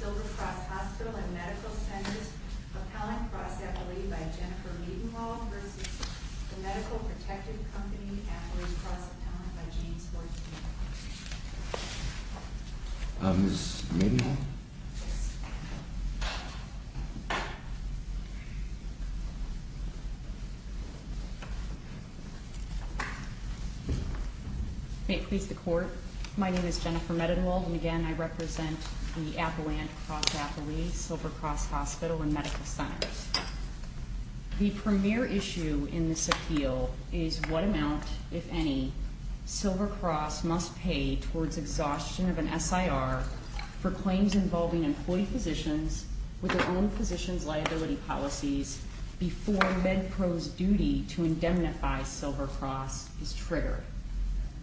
Silver Cross Hospital and Medical Centers, Appellant Cross Appellee by Jennifer Meadenhall v. The Medical Protective Company, Appellate Cross Appellant by James Horton. Ms. Meadenhall? May it please the Court, my name is Jennifer Meadenhall and again I represent the Appellant Cross Appellee, Silver Cross Hospital and Medical Centers. The premier issue in this appeal is what amount, if any, Silver Cross must pay towards exhaustion of an SIR for claims involving employee physicians with their own physician's liability policies before MedPro's duty to indemnify Silver Cross is triggered.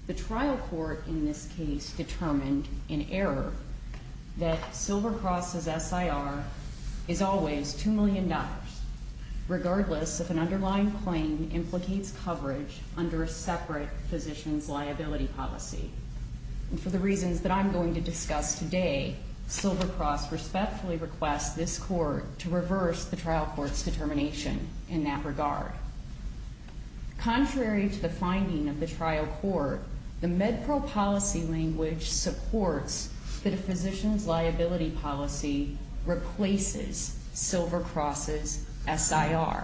The trial court in this case determined in error that Silver Cross's SIR is always $2 million regardless if an underlying claim implicates coverage under a separate physician's liability policy. And for the reasons that I'm going to discuss today, Silver Cross respectfully requests this court to reverse the trial court's determination in that regard. Contrary to the finding of the trial court, the MedPro policy language supports that a physician's liability policy replaces Silver Cross's SIR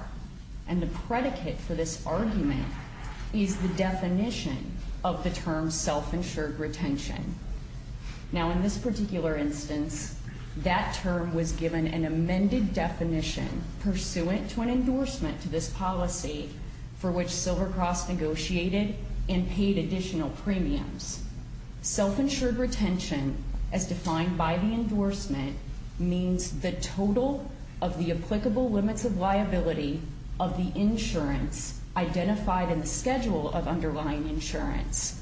and the predicate for this argument is the definition of the term self-insured retention. Now in this particular instance, that term was given an amended definition pursuant to an endorsement to this policy for which Silver Cross negotiated and paid additional premiums. Self-insured retention, as defined by the endorsement, means the total of the applicable limits of liability of the insurance identified in the schedule of underlying insurance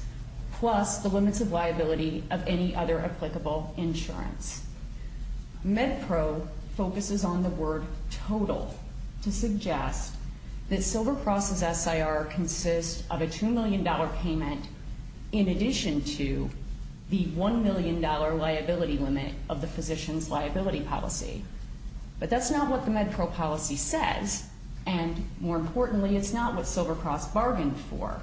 plus the limits of liability of any other applicable insurance. MedPro focuses on the word total to suggest that Silver Cross's SIR consists of a $2 million payment in addition to the $1 million liability limit of the physician's liability policy. But that's not what the MedPro policy says, and more importantly, it's not what Silver Cross bargained for.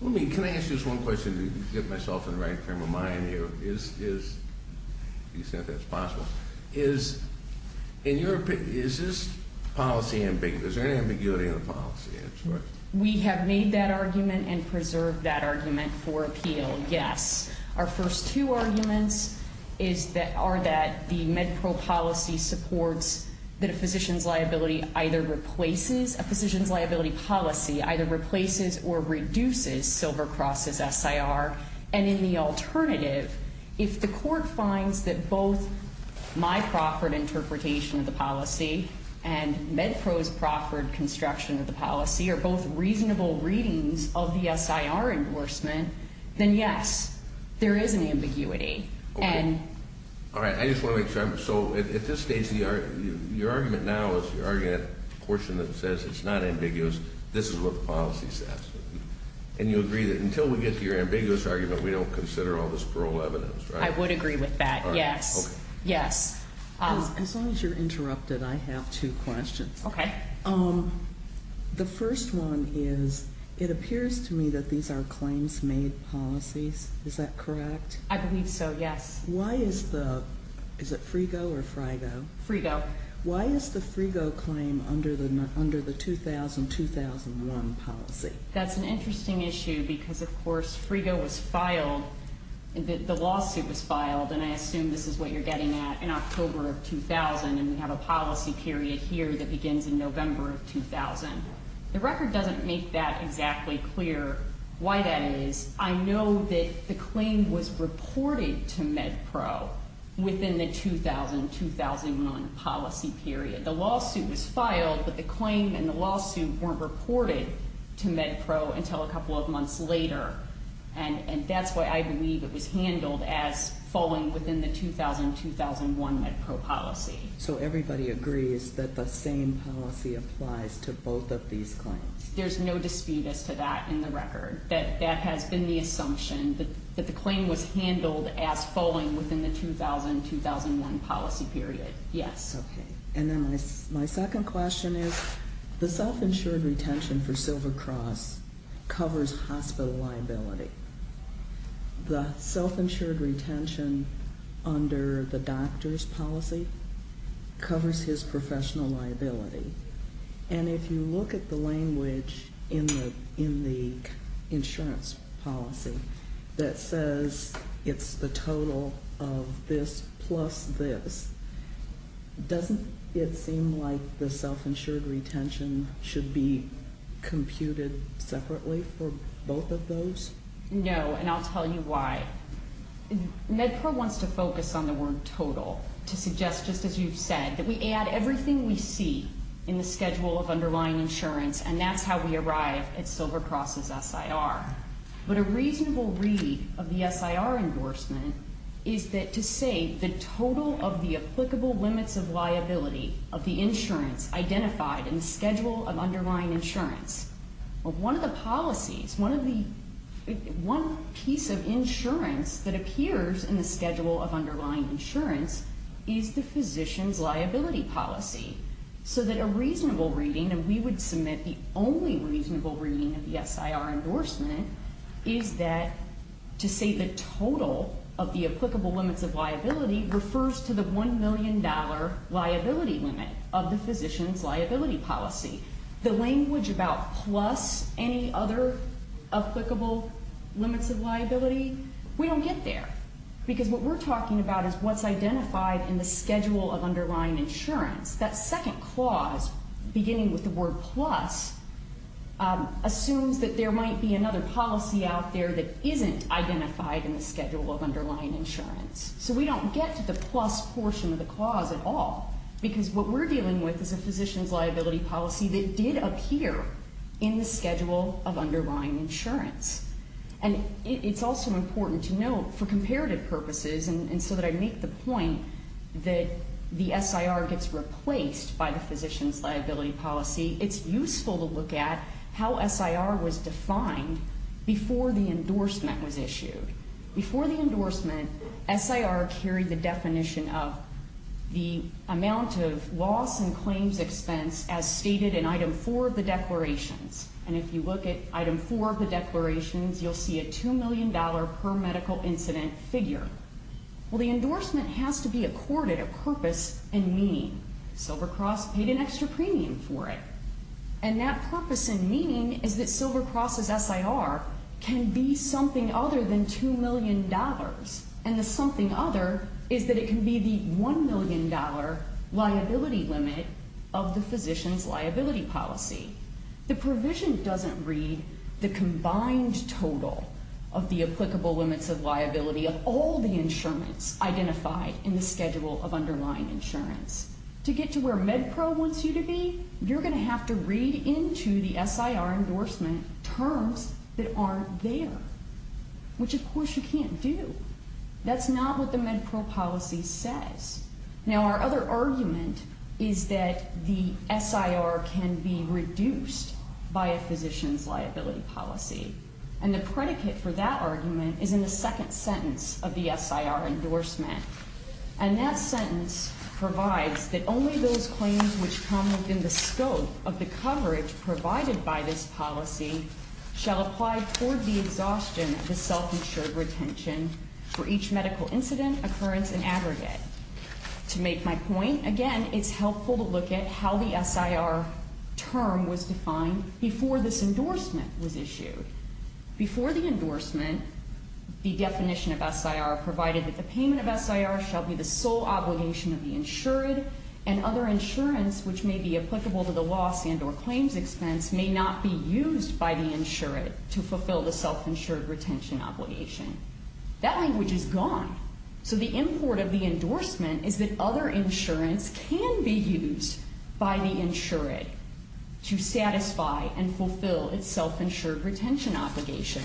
Let me, can I ask you this one question to get myself in the right frame of mind here? Is, you said that's possible. Is, in your opinion, is this policy, is there any ambiguity in the policy? We have made that argument and preserved that argument for appeal, yes. Our first two arguments is that, are that the MedPro policy supports that a physician's liability either replaces, a physician's liability policy either replaces or reduces Silver Cross's SIR. And in the alternative, if the court finds that both my proffered interpretation of the policy and MedPro's proffered construction of the policy are both reasonable readings of the SIR endorsement, then yes, there is an ambiguity. Okay. And. All right. I just want to make sure I'm, so at this stage, your argument now is, you're arguing that portion that says it's not ambiguous. This is what the policy says. And you agree that until we get to your ambiguous argument, we don't consider all this parole evidence, right? I would agree with that, yes. All right, okay. Yes. As long as you're interrupted, I have two questions. Okay. The first one is, it appears to me that these are claims made policies. Is that correct? I believe so, yes. Why is the, is it Frigo or Frigo? Frigo. Why is the Frigo claim under the 2000-2001 policy? That's an interesting issue because, of course, Frigo was filed, the lawsuit was filed, and I assume this is what you're getting at, in October of 2000, and we have a policy period here that begins in November of 2000. The record doesn't make that exactly clear why that is. I know that the claim was reported to MedPro within the 2000-2001 policy period. The lawsuit was filed, but the claim and the lawsuit weren't reported to MedPro until a couple of months later, and that's why I believe it was handled as falling within the 2000-2001 MedPro policy. So everybody agrees that the same policy applies to both of these claims? There's no dispute as to that in the record. That has been the assumption, that the claim was handled as falling within the 2000-2001 policy period, yes. That's okay. And then my second question is the self-insured retention for Silver Cross covers hospital liability. The self-insured retention under the doctor's policy covers his professional liability, and if you look at the language in the insurance policy that says it's the total of this plus this, doesn't it seem like the self-insured retention should be computed separately for both of those? No, and I'll tell you why. MedPro wants to focus on the word total to suggest, just as you've said, that we add everything we see in the schedule of underlying insurance, and that's how we arrive at Silver Cross's SIR. But a reasonable read of the SIR endorsement is to say the total of the applicable limits of liability of the insurance identified in the schedule of underlying insurance. Well, one of the policies, one piece of insurance that appears in the schedule of underlying insurance is the physician's liability policy, so that a reasonable reading, and we would submit the only reasonable reading of the SIR endorsement, is that to say the total of the applicable limits of liability refers to the $1 million liability limit of the physician's liability policy. The language about plus any other applicable limits of liability, we don't get there, because what we're talking about is what's identified in the schedule of underlying insurance. That second clause, beginning with the word plus, assumes that there might be another policy out there that isn't identified in the schedule of underlying insurance. So we don't get to the plus portion of the clause at all, because what we're dealing with is a physician's liability policy that did appear in the schedule of underlying insurance. And it's also important to note, for comparative purposes, and so that I make the point that the SIR gets replaced by the physician's liability policy, it's useful to look at how SIR was defined before the endorsement was issued. Before the endorsement, SIR carried the definition of the amount of loss and claims expense as stated in item four of the declarations. And if you look at item four of the declarations, you'll see a $2 million per medical incident figure. Well, the endorsement has to be accorded a purpose and meaning. Silver Cross paid an extra premium for it. And that purpose and meaning is that Silver Cross's SIR can be something other than $2 million, and the something other is that it can be the $1 million liability limit of the physician's liability policy. The provision doesn't read the combined total of the applicable limits of liability of all the insurance identified in the schedule of underlying insurance. To get to where MedPro wants you to be, you're going to have to read into the SIR endorsement terms that aren't there, which, of course, you can't do. That's not what the MedPro policy says. Now, our other argument is that the SIR can be reduced by a physician's liability policy. And the predicate for that argument is in the second sentence of the SIR endorsement. And that sentence provides that only those claims which come within the scope of the coverage provided by this policy shall apply toward the exhaustion of the self-insured retention for each medical incident, occurrence, and aggregate. To make my point, again, it's helpful to look at how the SIR term was defined before this endorsement was issued. Before the endorsement, the definition of SIR provided that the payment of SIR shall be the sole obligation of the insured and other insurance which may be applicable to the loss and or claims expense may not be used by the insured to fulfill the self-insured retention obligation. That language is gone. So the import of the endorsement is that other insurance can be used by the insured to satisfy and fulfill its self-insured retention obligation.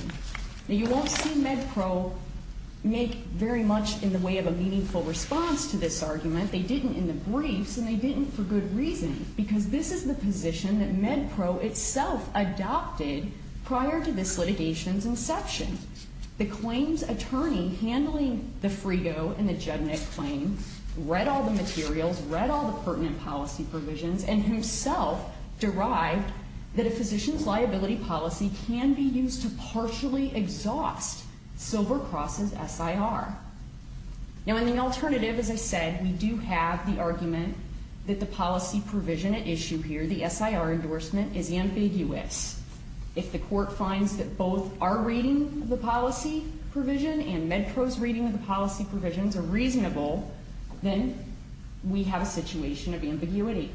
Now, you won't see MedPro make very much in the way of a meaningful response to this argument. They didn't in the briefs, and they didn't for good reason, because this is the position that MedPro itself adopted prior to this litigation's inception. The claims attorney handling the Frigo and the Judnick claim read all the materials, read all the pertinent policy provisions, and himself derived that a physician's liability policy can be used to partially exhaust Silver Cross's SIR. Now, in the alternative, as I said, we do have the argument that the policy provision at issue here, the SIR endorsement, is ambiguous. If the court finds that both our reading of the policy provision and MedPro's reading of the policy provisions are reasonable, then we have a situation of ambiguity.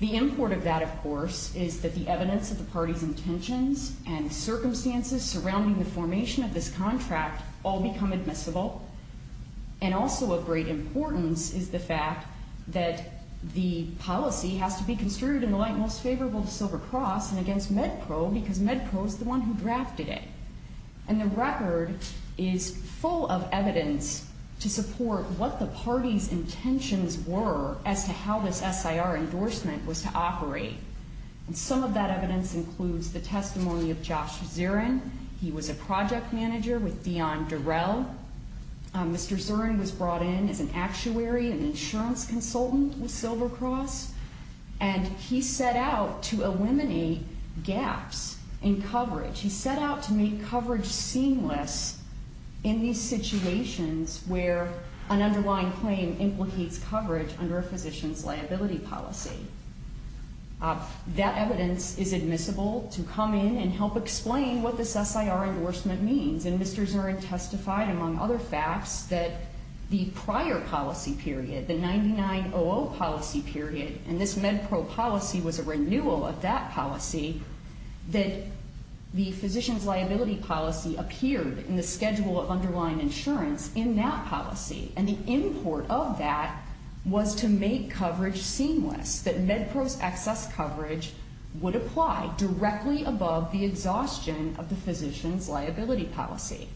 The import of that, of course, is that the evidence of the party's intentions and circumstances surrounding the formation of this contract all become admissible. And also of great importance is the fact that the policy has to be construed in the light most favorable to Silver Cross and against MedPro because MedPro is the one who drafted it. And the record is full of evidence to support what the party's intentions were as to how this SIR endorsement was to operate. And some of that evidence includes the testimony of Josh Zirin. He was a project manager with Dion Derrell. Mr. Zirin was brought in as an actuary and insurance consultant with Silver Cross, and he set out to eliminate gaps in coverage. He set out to make coverage seamless in these situations where an underlying claim implicates coverage under a physician's liability policy. That evidence is admissible to come in and help explain what this SIR endorsement means. And Mr. Zirin testified, among other facts, that the prior policy period, the 99-00 policy period, and this MedPro policy was a renewal of that policy, that the physician's liability policy appeared in the schedule of underlying insurance in that policy. And the import of that was to make coverage seamless, that MedPro's excess coverage would apply directly above the exhaustion of the physician's liability policy.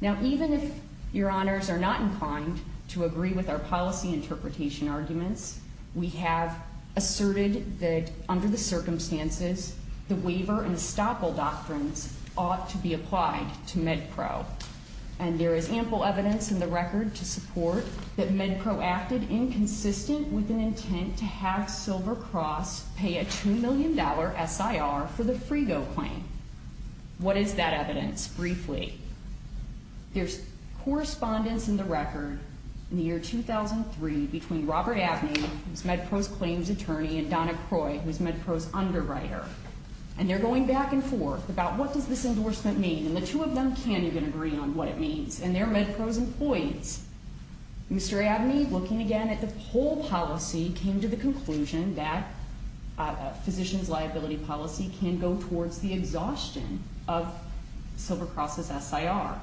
Now, even if Your Honors are not inclined to agree with our policy interpretation arguments, we have asserted that under the circumstances, the waiver and estoppel doctrines ought to be applied to MedPro. And there is ample evidence in the record to support that MedPro acted inconsistent with an intent to have Silver Cross pay a $2 million SIR for the Frigo claim. What is that evidence, briefly? There's correspondence in the record in the year 2003 between Robert Abney, who's MedPro's claims attorney, and Donna Croy, who's MedPro's underwriter. And they're going back and forth about what does this endorsement mean, and the two of them can't even agree on what it means, and they're MedPro's employees. Mr. Abney, looking again at the whole policy, came to the conclusion that a physician's liability policy can go towards the exhaustion of Silver Cross's SIR.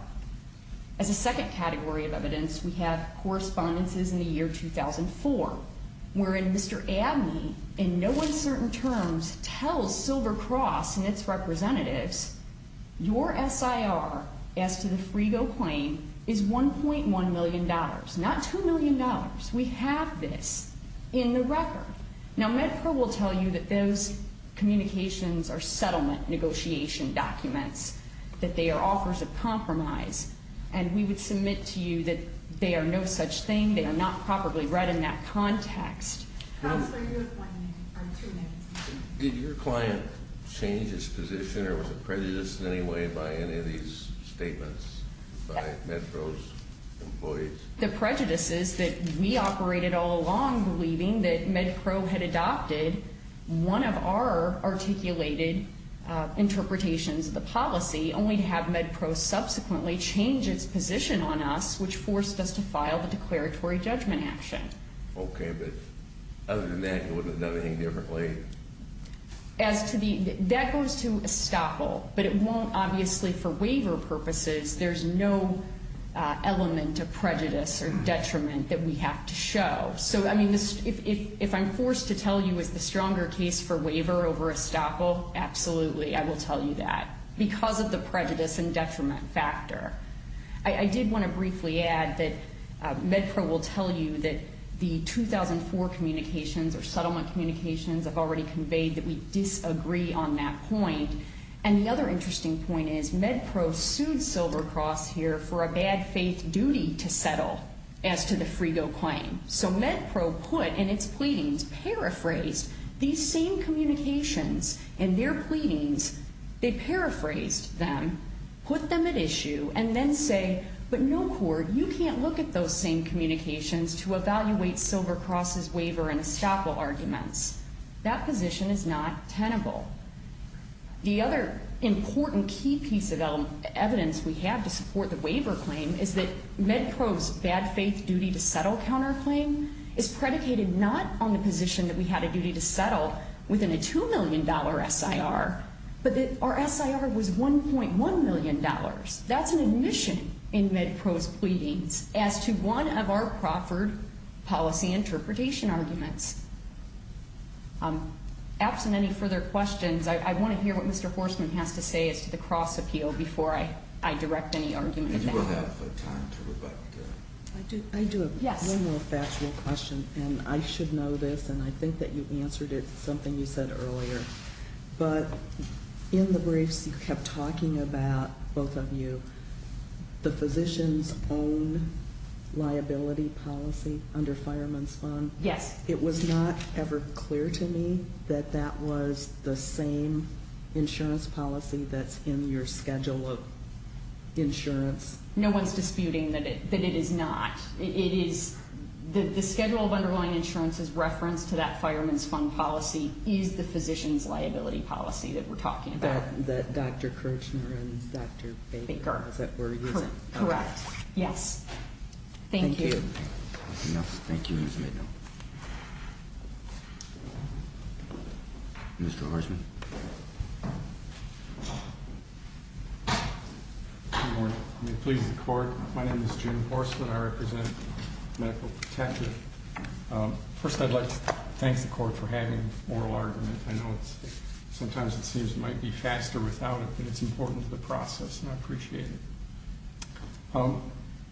As a second category of evidence, we have correspondences in the year 2004, wherein Mr. Abney, in no uncertain terms, tells Silver Cross and its representatives, your SIR as to the Frigo claim is $1.1 million, not $2 million. We have this in the record. Now, MedPro will tell you that those communications are settlement negotiation documents, that they are offers of compromise, and we would submit to you that they are no such thing. They are not properly read in that context. Counselor, you have one minute or two minutes. Did your client change his position or was it prejudiced in any way by any of these statements by MedPro's employees? The prejudice is that we operated all along believing that MedPro had adopted one of our articulated interpretations of the policy, only to have MedPro subsequently change its position on us, which forced us to file the declaratory judgment action. Okay, but other than that, it wouldn't have done anything differently? As to the – that goes to estoppel, but it won't, obviously, for waiver purposes. There's no element of prejudice or detriment that we have to show. So, I mean, if I'm forced to tell you it's the stronger case for waiver over estoppel, absolutely, I will tell you that. Because of the prejudice and detriment factor. I did want to briefly add that MedPro will tell you that the 2004 communications or settlement communications have already conveyed that we disagree on that point. And the other interesting point is MedPro sued Silver Cross here for a bad faith duty to settle as to the Frigo claim. So MedPro put in its pleadings, paraphrased these same communications in their pleadings. They paraphrased them, put them at issue, and then say, but no court, you can't look at those same communications to evaluate Silver Cross's waiver and estoppel arguments. That position is not tenable. The other important key piece of evidence we have to support the waiver claim is that MedPro's bad faith duty to settle counterclaim is predicated not on the position that we had a duty to settle within a $2 million SIR, but that our SIR was $1.1 million. That's an admission in MedPro's pleadings as to one of our Crawford policy interpretation arguments. Absent any further questions, I want to hear what Mr. Horstman has to say as to the Cross appeal before I direct any argument. You will have time to reflect. I do have one more factual question, and I should know this, and I think that you answered it, something you said earlier. But in the briefs, you kept talking about, both of you, the physician's own liability policy under Fireman's Fund. Yes. It was not ever clear to me that that was the same insurance policy that's in your schedule of insurance. No one's disputing that it is not. The schedule of underlying insurance is referenced to that Fireman's Fund policy is the physician's liability policy that we're talking about. That Dr. Kirchner and Dr. Baker were using. Correct. Yes. Thank you. Thank you. Mr. Horstman. Good morning. May it please the Court. My name is Jim Horstman. I represent Medical Protective. First, I'd like to thank the Court for having oral argument. I know sometimes it seems it might be faster without it, but it's important to the process, and I appreciate it.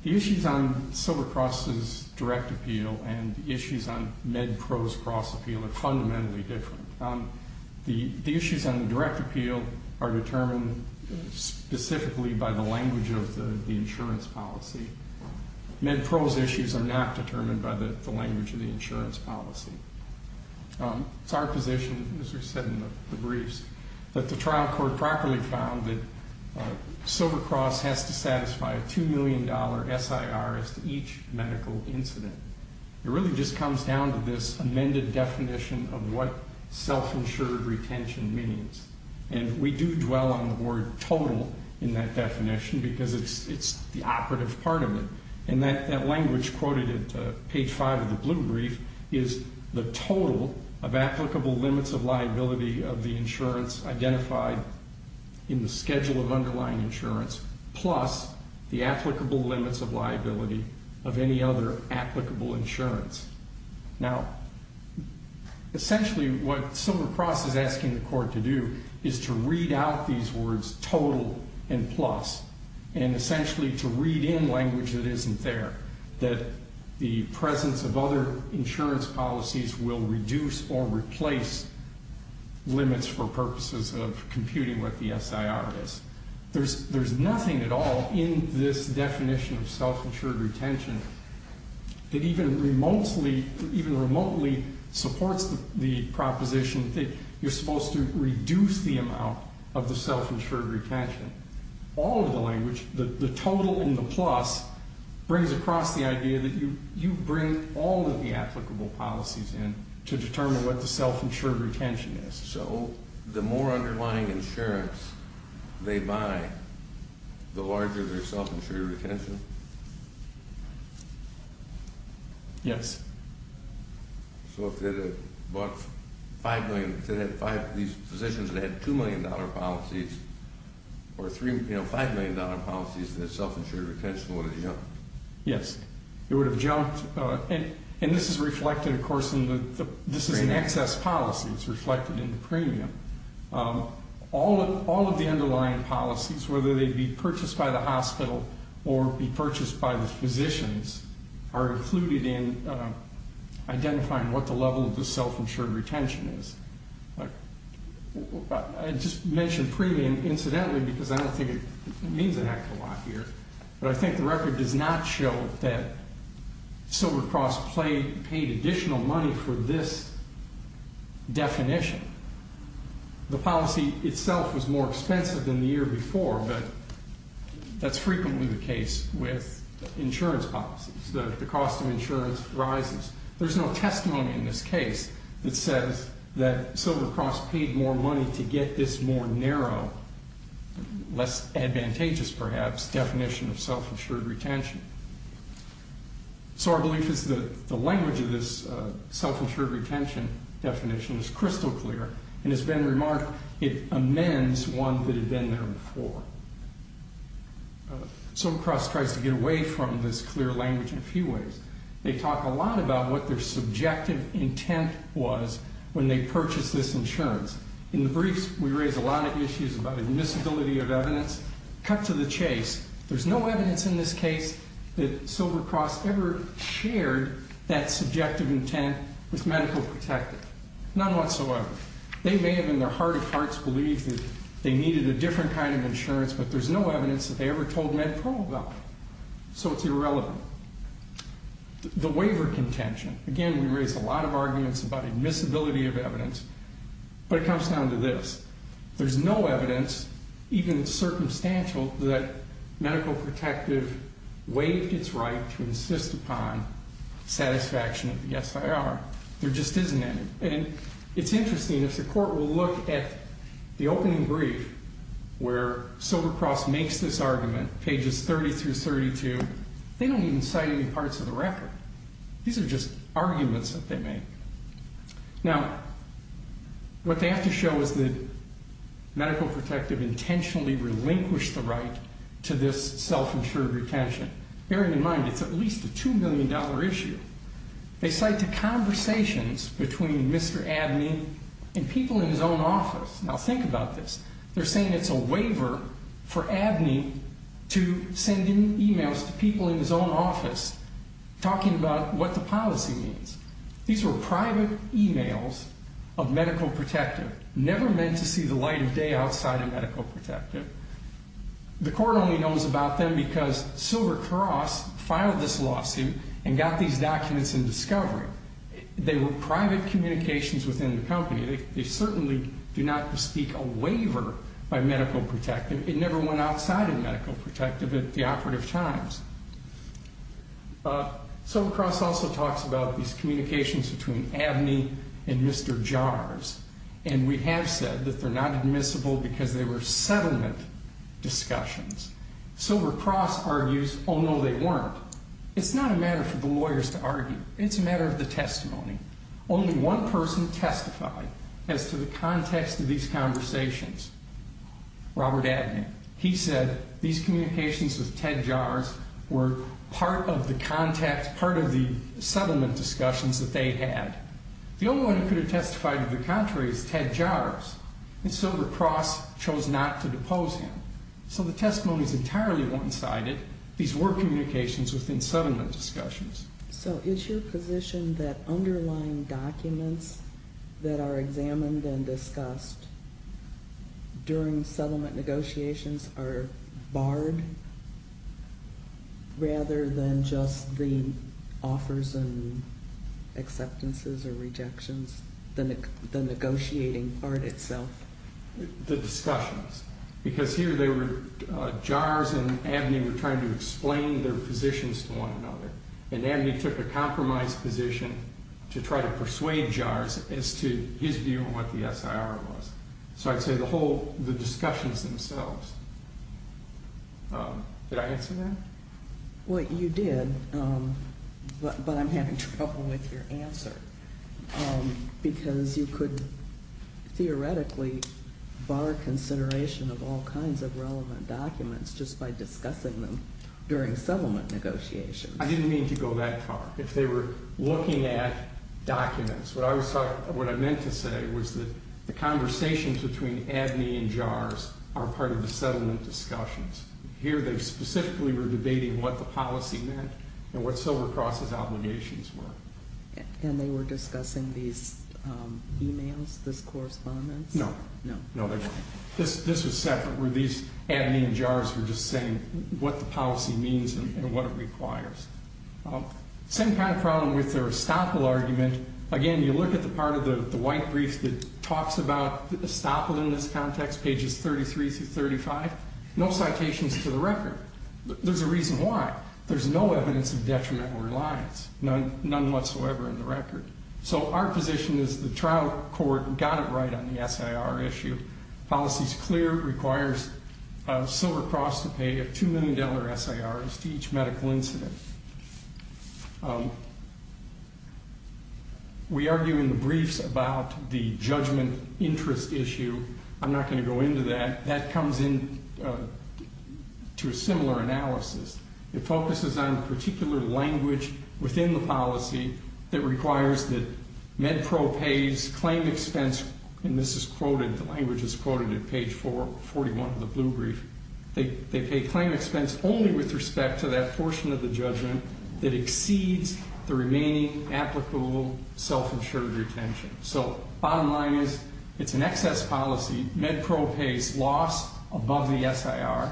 The issues on Silver Cross's direct appeal and the issues on MedPro's cross appeal are fundamentally different. The issues on the direct appeal are determined specifically by the language of the insurance policy. MedPro's issues are not determined by the language of the insurance policy. It's our position, as was said in the briefs, that the trial court properly found that Silver Cross has to satisfy a $2 million SIR as to each medical incident. It really just comes down to this amended definition of what self-insured retention means. And we do dwell on the word total in that definition because it's the operative part of it. And that language quoted at page 5 of the blue brief is the total of applicable limits of liability of the insurance identified in the schedule of underlying insurance plus the applicable limits of liability of any other applicable insurance. Now, essentially what Silver Cross is asking the Court to do is to read out these words total and plus and essentially to read in language that isn't there, that the presence of other insurance policies will reduce or replace limits for purposes of computing what the SIR is. There's nothing at all in this definition of self-insured retention that even remotely supports the proposition that you're supposed to reduce the amount of the self-insured retention. All of the language, the total and the plus, brings across the idea that you bring all of the applicable policies in to determine what the self-insured retention is. So the more underlying insurance they buy, the larger their self-insured retention? Yes. So if they bought these physicians that had $2 million policies or $5 million policies, their self-insured retention would have jumped? Yes, it would have jumped. And this is reflected, of course, in the premium. This is an excess policy. It's reflected in the premium. All of the underlying policies, whether they be purchased by the hospital or be purchased by the physicians, are included in identifying what the level of the self-insured retention is. I just mentioned premium, incidentally, because I don't think it means an act of law here, but I think the record does not show that Silver Cross paid additional money for this definition. The policy itself was more expensive than the year before, but that's frequently the case with insurance policies. The cost of insurance rises. There's no testimony in this case that says that Silver Cross paid more money to get this more narrow, less advantageous, perhaps, definition of self-insured retention. So our belief is that the language of this self-insured retention definition is crystal clear, and it's been remarked it amends one that had been there before. Silver Cross tries to get away from this clear language in a few ways. They talk a lot about what their subjective intent was when they purchased this insurance. In the briefs, we raise a lot of issues about admissibility of evidence. Cut to the chase. There's no evidence in this case that Silver Cross ever shared that subjective intent with Medical Protective, none whatsoever. They may have, in their heart of hearts, believed that they needed a different kind of insurance, but there's no evidence that they ever told MedPro about it, so it's irrelevant. The waiver contention. Again, we raise a lot of arguments about admissibility of evidence, but it comes down to this. There's no evidence, even circumstantial, that Medical Protective waived its right to insist upon satisfaction of the SIR. There just isn't any. And it's interesting. If the court will look at the opening brief where Silver Cross makes this argument, pages 30 through 32, they don't even cite any parts of the record. These are just arguments that they make. Now, what they have to show is that Medical Protective intentionally relinquished the right to this self-insured retention, bearing in mind it's at least a $2 million issue. They cite the conversations between Mr. Abney and people in his own office. Now, think about this. They're saying it's a waiver for Abney to send in e-mails to people in his own office talking about what the policy means. These were private e-mails of Medical Protective, never meant to see the light of day outside of Medical Protective. The court only knows about them because Silver Cross filed this lawsuit and got these documents in discovery. They were private communications within the company. They certainly do not bespeak a waiver by Medical Protective. It never went outside of Medical Protective at the operative times. Silver Cross also talks about these communications between Abney and Mr. Jars. And we have said that they're not admissible because they were settlement discussions. Silver Cross argues, oh, no, they weren't. It's not a matter for the lawyers to argue. It's a matter of the testimony. Only one person testified as to the context of these conversations, Robert Abney. He said these communications with Ted Jars were part of the settlement discussions that they had. The only one who could have testified to the contrary is Ted Jars. And Silver Cross chose not to depose him. So the testimony is entirely one-sided. These were communications within settlement discussions. So is your position that underlying documents that are examined and discussed during settlement negotiations are barred rather than just the offers and acceptances or rejections, the negotiating part itself? The discussions. Because here they were, Jars and Abney were trying to explain their positions to one another. And Abney took a compromise position to try to persuade Jars as to his view of what the SIR was. So I'd say the discussions themselves. Did I answer that? Well, you did. But I'm having trouble with your answer. Because you could theoretically bar consideration of all kinds of relevant documents just by discussing them during settlement negotiations. I didn't mean to go that far. If they were looking at documents, what I meant to say was that the conversations between Abney and Jars are part of the settlement discussions. Here they specifically were debating what the policy meant and what Silver Cross's obligations were. And they were discussing these emails, these correspondence? No. No. This was separate where these Abney and Jars were just saying what the policy means and what it requires. Same kind of problem with their estoppel argument. Again, you look at the part of the white brief that talks about estoppel in this context, pages 33 through 35. No citations to the record. There's a reason why. There's no evidence of detrimental reliance. None whatsoever in the record. So our position is the trial court got it right on the SIR issue. Policy is clear. It requires Silver Cross to pay a $2 million SIR to each medical incident. We argue in the briefs about the judgment interest issue. I'm not going to go into that. That comes in to a similar analysis. It focuses on a particular language within the policy that requires that MedPro pays claim expense. And this is quoted, the language is quoted at page 41 of the blue brief. They pay claim expense only with respect to that portion of the judgment that exceeds the remaining applicable self-insured retention. So bottom line is it's an excess policy. MedPro pays loss above the SIR.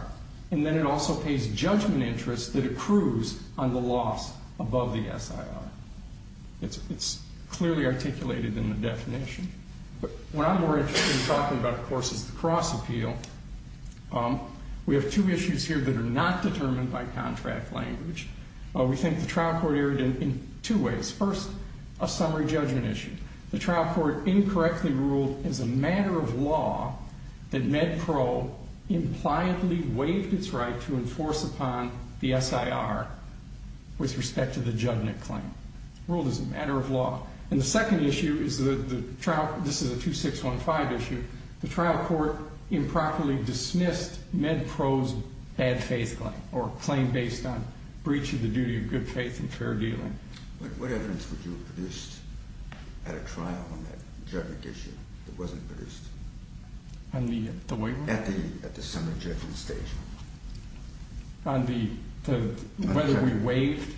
And then it also pays judgment interest that accrues on the loss above the SIR. It's clearly articulated in the definition. But what I'm more interested in talking about, of course, is the cross appeal. We have two issues here that are not determined by contract language. We think the trial court erred in two ways. First, a summary judgment issue. The trial court incorrectly ruled as a matter of law that MedPro impliedly waived its right to enforce upon the SIR with respect to the judgment claim. Ruled as a matter of law. And the second issue is the trial ‑‑ this is a 2615 issue. The trial court improperly dismissed MedPro's bad faith claim or claim based on breach of the duty of good faith and fair dealing. What evidence would you have produced at a trial on that judgment issue that wasn't produced? On the waiver? At the summary judgment stage. On whether we waived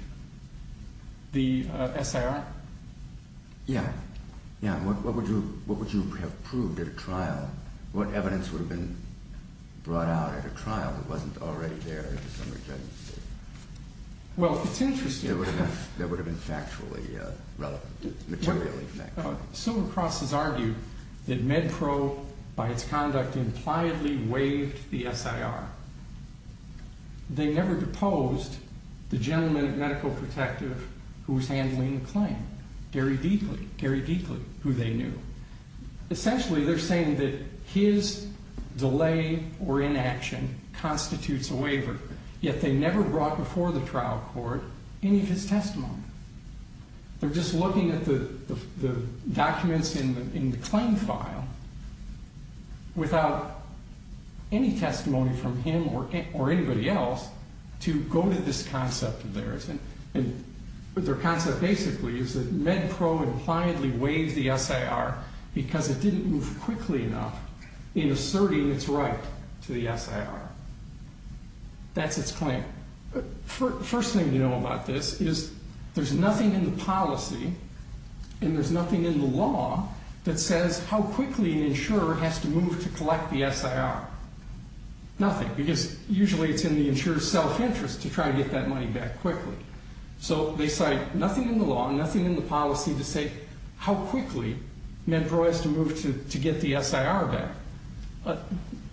the SIR? Yeah. What would you have proved at a trial? What evidence would have been brought out at a trial that wasn't already there at the summary judgment stage? Well, it's interesting. That would have been factually relevant, materially factual. Silver Cross has argued that MedPro, by its conduct, impliedly waived the SIR. They never deposed the gentleman at Medical Protective who was handling the claim, Gary Deakley. Gary Deakley, who they knew. Essentially, they're saying that his delay or inaction constitutes a waiver. Yet they never brought before the trial court any of his testimony. They're just looking at the documents in the claim file without any testimony from him or anybody else to go to this concept of theirs. That's its claim. First thing to know about this is there's nothing in the policy and there's nothing in the law that says how quickly an insurer has to move to collect the SIR. Nothing, because usually it's in the insurer's self-interest to try to get that money back quickly. So they cite nothing in the law, nothing in the policy to say how quickly MedPro has to move to get the SIR back.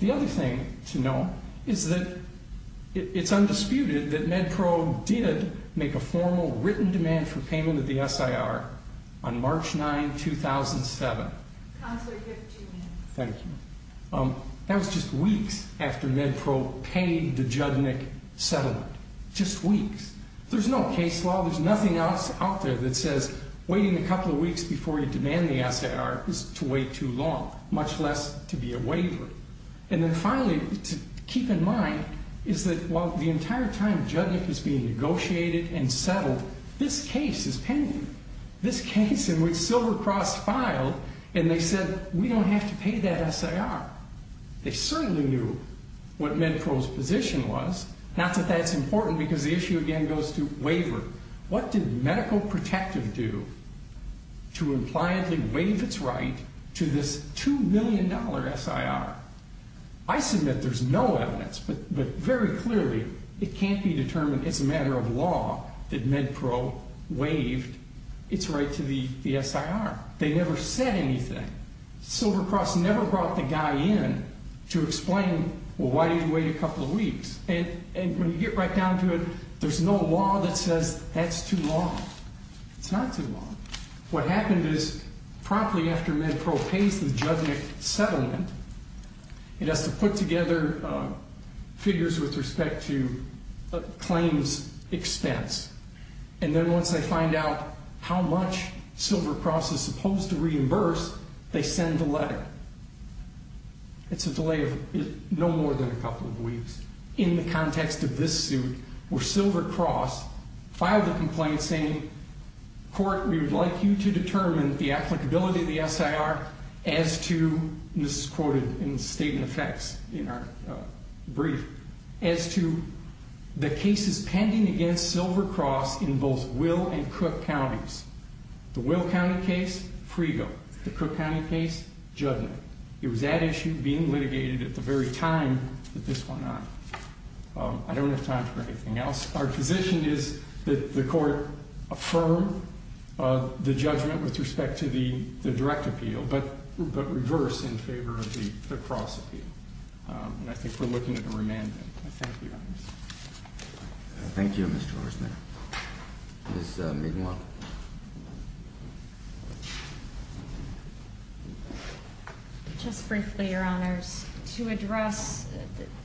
The other thing to know is that it's undisputed that MedPro did make a formal written demand for payment of the SIR on March 9, 2007. Counselor, you have two minutes. Thank you. That was just weeks after MedPro paid the Judnick settlement. Just weeks. There's no case law. There's nothing else out there that says waiting a couple of weeks before you demand the SIR is to wait too long, much less to be a waiver. And then finally, to keep in mind, is that while the entire time Judnick was being negotiated and settled, this case is pending. This case in which Silvercross filed and they said, we don't have to pay that SIR. They certainly knew what MedPro's position was, not that that's important because the issue again goes to waiver. What did Medical Protective do to impliantly waive its right to this $2 million SIR? I submit there's no evidence, but very clearly it can't be determined as a matter of law that MedPro waived its right to the SIR. They never said anything. Silvercross never brought the guy in to explain, well, why do you wait a couple of weeks? And when you get right down to it, there's no law that says that's too long. It's not too long. What happened is promptly after MedPro pays the Judnick settlement, it has to put together figures with respect to claims expense. And then once they find out how much Silvercross is supposed to reimburse, they send the letter. It's a delay of no more than a couple of weeks. In the context of this suit, where Silvercross filed a complaint saying, court, we would like you to determine the applicability of the SIR as to, and this is quoted in the state and effects in our brief, as to the cases pending against Silvercross in both Will and Cook Counties. The Will County case, Frego. The Cook County case, Judnick. It was that issue being litigated at the very time that this went on. I don't have time for anything else. Our position is that the court affirm the judgment with respect to the direct appeal, but reverse in favor of the cross appeal. And I think we're looking at a remand. Thank you, Your Honors. Thank you, Mr. Horstman. Ms. Mignon. Just briefly, Your Honors, to address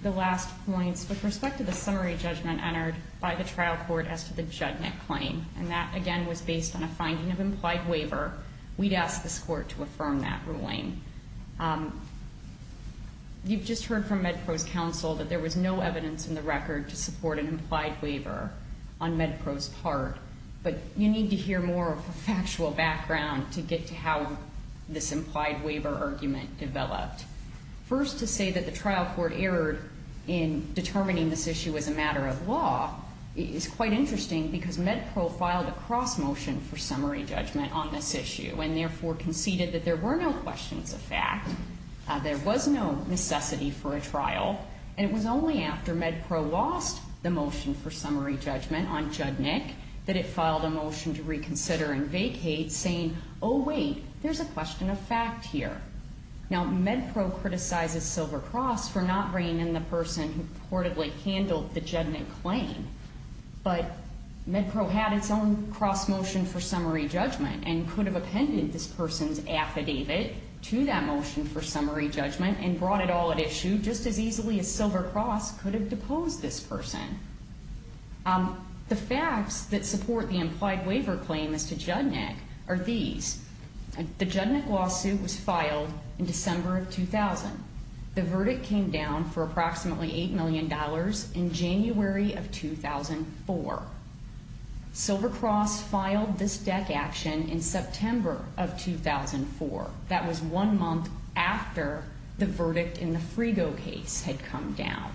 the last points, with respect to the summary judgment entered by the trial court as to the Judnick claim, and that, again, was based on a finding of implied waiver, we'd ask this court to affirm that ruling. You've just heard from MedPRO's counsel that there was no evidence in the record to support an implied waiver on MedPRO's part. But you need to hear more of a factual background to get to how this implied waiver argument developed. First, to say that the trial court erred in determining this issue as a matter of law is quite interesting because MedPRO filed a cross motion for summary judgment on this issue and therefore conceded that there were no questions of fact, there was no necessity for a trial, and it was only after MedPRO lost the motion for summary judgment on Judnick that it filed a motion to reconsider and vacate saying, oh, wait, there's a question of fact here. Now, MedPRO criticizes Silver Cross for not bringing in the person who reportedly handled the Judnick claim, but MedPRO had its own cross motion for summary judgment and could have appended this person's affidavit to that motion for summary judgment and brought it all at issue just as easily as Silver Cross could have deposed this person. The facts that support the implied waiver claim as to Judnick are these. The Judnick lawsuit was filed in December of 2000. The verdict came down for approximately $8 million in January of 2004. Silver Cross filed this DEC action in September of 2004. That was one month after the verdict in the Frigo case had come down.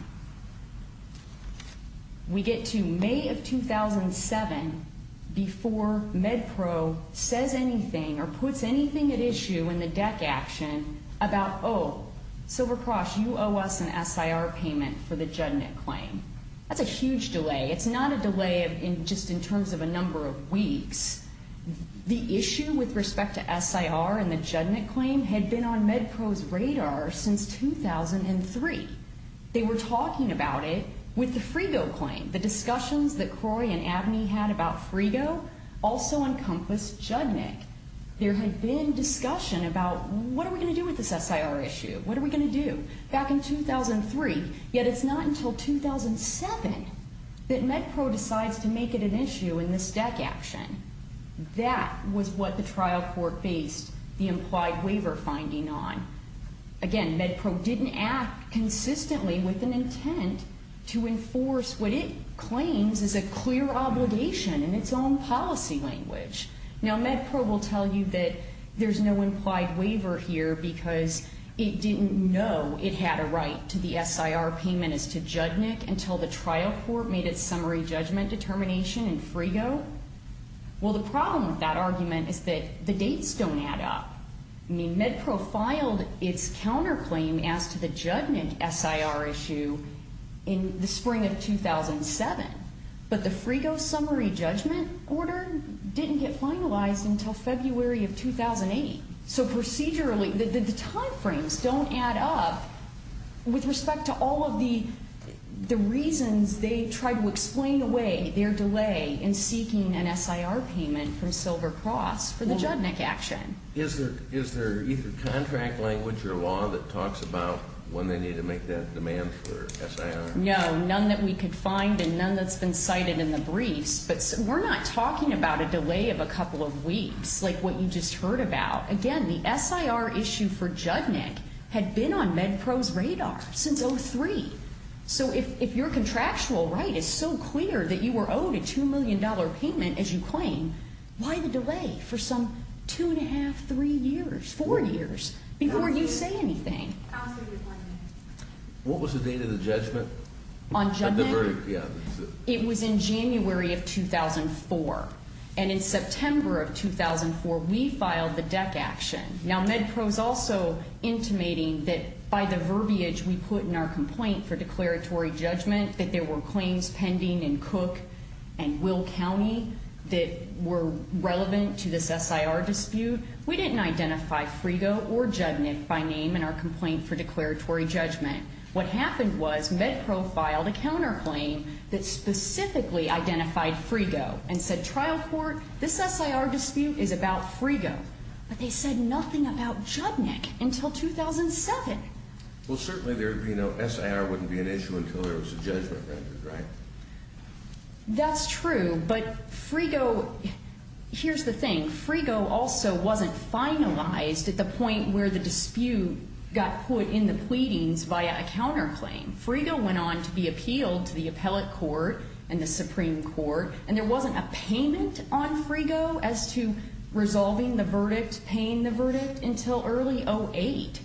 We get to May of 2007 before MedPRO says anything or puts anything at issue in the DEC action about, oh, Silver Cross, you owe us an SIR payment for the Judnick claim. That's a huge delay. It's not a delay just in terms of a number of weeks. The issue with respect to SIR and the Judnick claim had been on MedPRO's radar since 2003. They were talking about it with the Frigo claim. The discussions that Croy and Abney had about Frigo also encompassed Judnick. There had been discussion about what are we going to do with this SIR issue? What are we going to do? Back in 2003, yet it's not until 2007 that MedPRO decides to make it an issue in this DEC action. That was what the trial court based the implied waiver finding on. Again, MedPRO didn't act consistently with an intent to enforce what it claims is a clear obligation in its own policy language. Now, MedPRO will tell you that there's no implied waiver here because it didn't know it had a right to the SIR payment as to Judnick until the trial court made its summary judgment determination in Frigo. Well, the problem with that argument is that the dates don't add up. I mean, MedPRO filed its counterclaim as to the Judnick SIR issue in the spring of 2007, but the Frigo summary judgment order didn't get finalized until February of 2008. So procedurally, the timeframes don't add up with respect to all of the reasons they tried to explain away their delay in seeking an SIR payment from Silver Cross for the Judnick action. Is there either contract language or law that talks about when they need to make that demand for SIR? No, none that we could find and none that's been cited in the briefs. But we're not talking about a delay of a couple of weeks like what you just heard about. Again, the SIR issue for Judnick had been on MedPRO's radar since 03. So if your contractual right is so clear that you were owed a $2 million payment, as you claim, why the delay for some two and a half, three years, four years before you say anything? Counsel, you're blaming me. What was the date of the judgment? On Judnick? Yeah. It was in January of 2004. And in September of 2004, we filed the DEC action. Now, MedPRO's also intimating that by the verbiage we put in our complaint for declaratory judgment, that there were claims pending in Cook and Will County that were relevant to this SIR dispute. We didn't identify Frigo or Judnick by name in our complaint for declaratory judgment. What happened was MedPRO filed a counterclaim that specifically identified Frigo and said, trial court, this SIR dispute is about Frigo. But they said nothing about Judnick until 2007. Well, certainly there would be no SIR wouldn't be an issue until there was a judgment rendered, right? That's true. But Frigo, here's the thing. I think Frigo also wasn't finalized at the point where the dispute got put in the pleadings via a counterclaim. Frigo went on to be appealed to the appellate court and the Supreme Court, and there wasn't a payment on Frigo as to resolving the verdict, paying the verdict, until early 2008.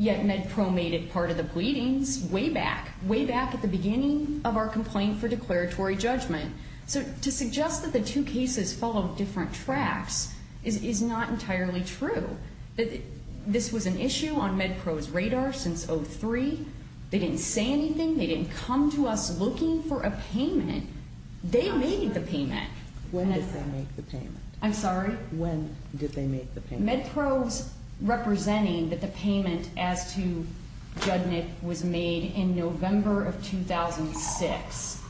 Yet MedPRO made it part of the pleadings way back, way back at the beginning of our complaint for declaratory judgment. So to suggest that the two cases follow different tracks is not entirely true. This was an issue on MedPRO's radar since 2003. They didn't say anything. They didn't come to us looking for a payment. They made the payment. When did they make the payment? I'm sorry? When did they make the payment? MedPRO's representing that the payment as to Judnick was made in November of 2006.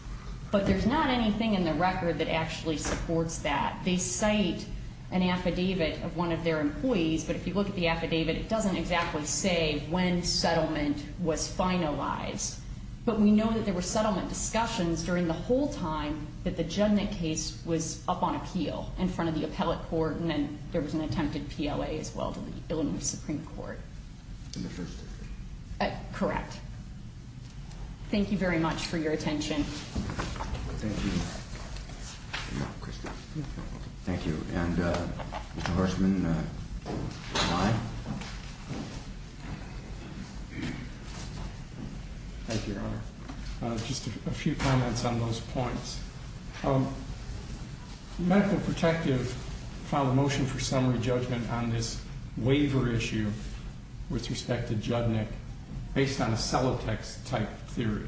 But there's not anything in the record that actually supports that. They cite an affidavit of one of their employees, but if you look at the affidavit, it doesn't exactly say when settlement was finalized. But we know that there were settlement discussions during the whole time that the Judnick case was up on appeal in front of the appellate court, and then there was an attempted PLA as well to the Illinois Supreme Court. In the first instance? Correct. Thank you very much for your attention. Thank you. Thank you. And Mr. Hershman? Thank you, Your Honor. Just a few comments on those points. Medical Protective filed a motion for summary judgment on this waiver issue with respect to Judnick based on a cellotex type theory.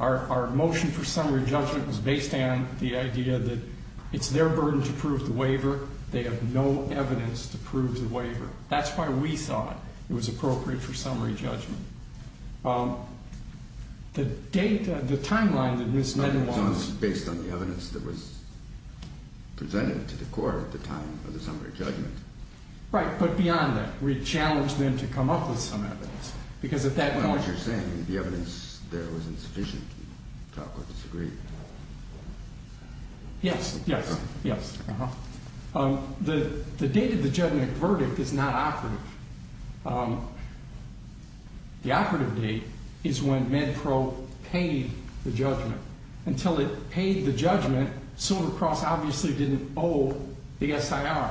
Our motion for summary judgment was based on the idea that it's their burden to prove the waiver. They have no evidence to prove the waiver. That's why we thought it was appropriate for summary judgment. The timeline that Ms. Mendel wants- Based on the evidence that was presented to the court at the time of the summary judgment. Right, but beyond that, we challenged them to come up with some evidence because at that point- Not what you're saying. The evidence there was insufficient to talk or disagree. Yes, yes, yes. Uh-huh. The date of the Judnick verdict is not accurate. The operative date is when MedPro paid the judgment. Until it paid the judgment, Silver Cross obviously didn't owe the SIR.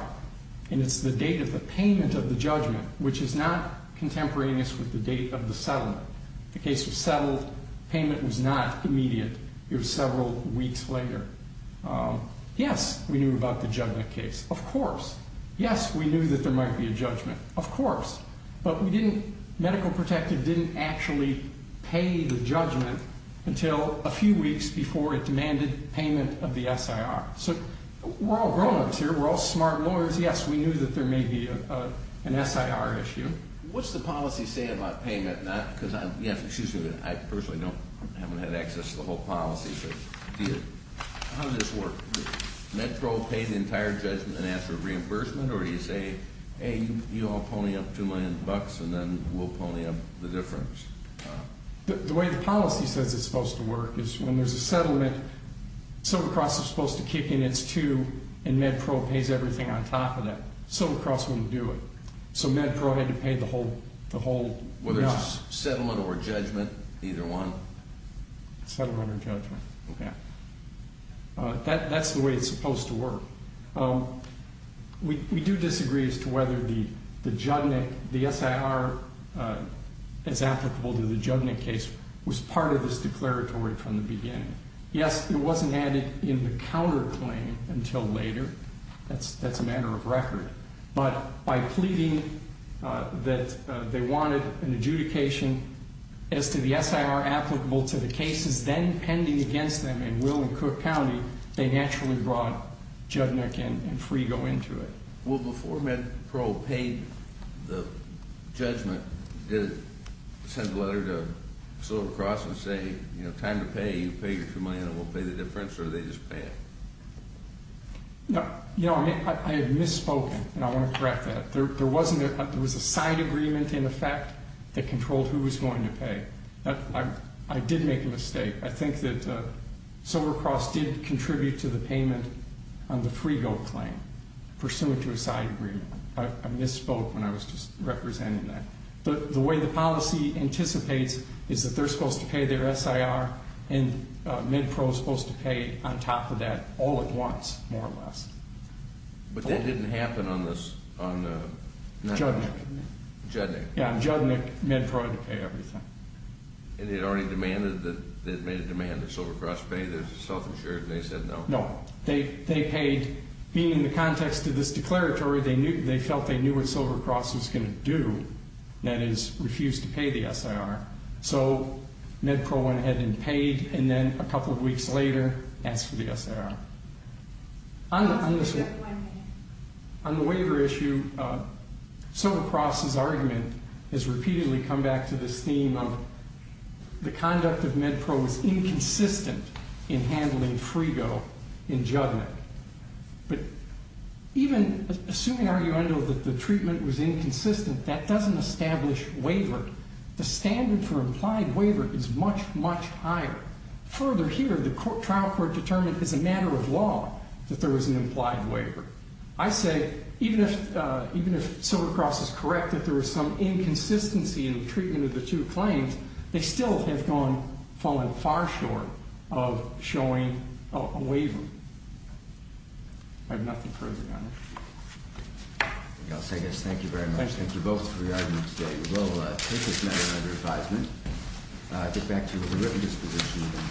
And it's the date of the payment of the judgment, which is not contemporaneous with the date of the settlement. The case was settled. Payment was not immediate. It was several weeks later. Yes, we knew about the Judnick case. Of course. Yes, we knew that there might be a judgment. Of course. But we didn't-Medical Protective didn't actually pay the judgment until a few weeks before it demanded payment of the SIR. So we're all grown-ups here. We're all smart lawyers. Yes, we knew that there may be an SIR issue. What's the policy say about payment? Not because I'm- Yes, excuse me, but I personally don't- I haven't had access to the whole policy. How does this work? MedPro paid the entire judgment and asked for reimbursement? Or do you say, hey, you all pony up two million bucks and then we'll pony up the difference? The way the policy says it's supposed to work is when there's a settlement, Silver Cross is supposed to kick in its two and MedPro pays everything on top of that. Silver Cross wouldn't do it. So MedPro had to pay the whole- Whether it's settlement or judgment, either one? Settlement or judgment. Okay. That's the way it's supposed to work. We do disagree as to whether the SIR as applicable to the judgment case was part of this declaratory from the beginning. Yes, it wasn't added in the counterclaim until later. That's a matter of record. But by pleading that they wanted an adjudication as to the SIR applicable to the cases then pending against them in Will and Cook County, they naturally brought Judnick and Frigo into it. Well, before MedPro paid the judgment, did it send a letter to Silver Cross and say, you know, time to pay, you pay your two million and we'll pay the difference, or did they just pay it? You know, I have misspoken, and I want to correct that. There was a side agreement in effect that controlled who was going to pay. I did make a mistake. I think that Silver Cross did contribute to the payment on the Frigo claim pursuant to a side agreement. I misspoke when I was just representing that. The way the policy anticipates is that they're supposed to pay their SIR, and MedPro is supposed to pay on top of that all at once, more or less. But that didn't happen on the... Judnick. Judnick. Yeah, Judnick, MedPro had to pay everything. And they'd already demanded that Silver Cross pay their self-insured, and they said no? No. They paid. Being in the context of this declaratory, they felt they knew what Silver Cross was going to do, that is, refuse to pay the SIR. So MedPro went ahead and paid, and then a couple of weeks later asked for the SIR. On the waiver issue, Silver Cross's argument has repeatedly come back to this theme of the conduct of MedPro was inconsistent in handling Frigo in Judnick. But even assuming, arguably, that the treatment was inconsistent, that doesn't establish waiver. The standard for implied waiver is much, much higher. Further here, the trial court determined as a matter of law that there was an implied waiver. I say even if Silver Cross is correct that there was some inconsistency in the treatment of the two claims, they still have fallen far short of showing a waiver. I have nothing further to add. I'll say this. Thank you very much. Thank you both for your arguments today. We will take this matter under advisement. I'll get back to the witness position.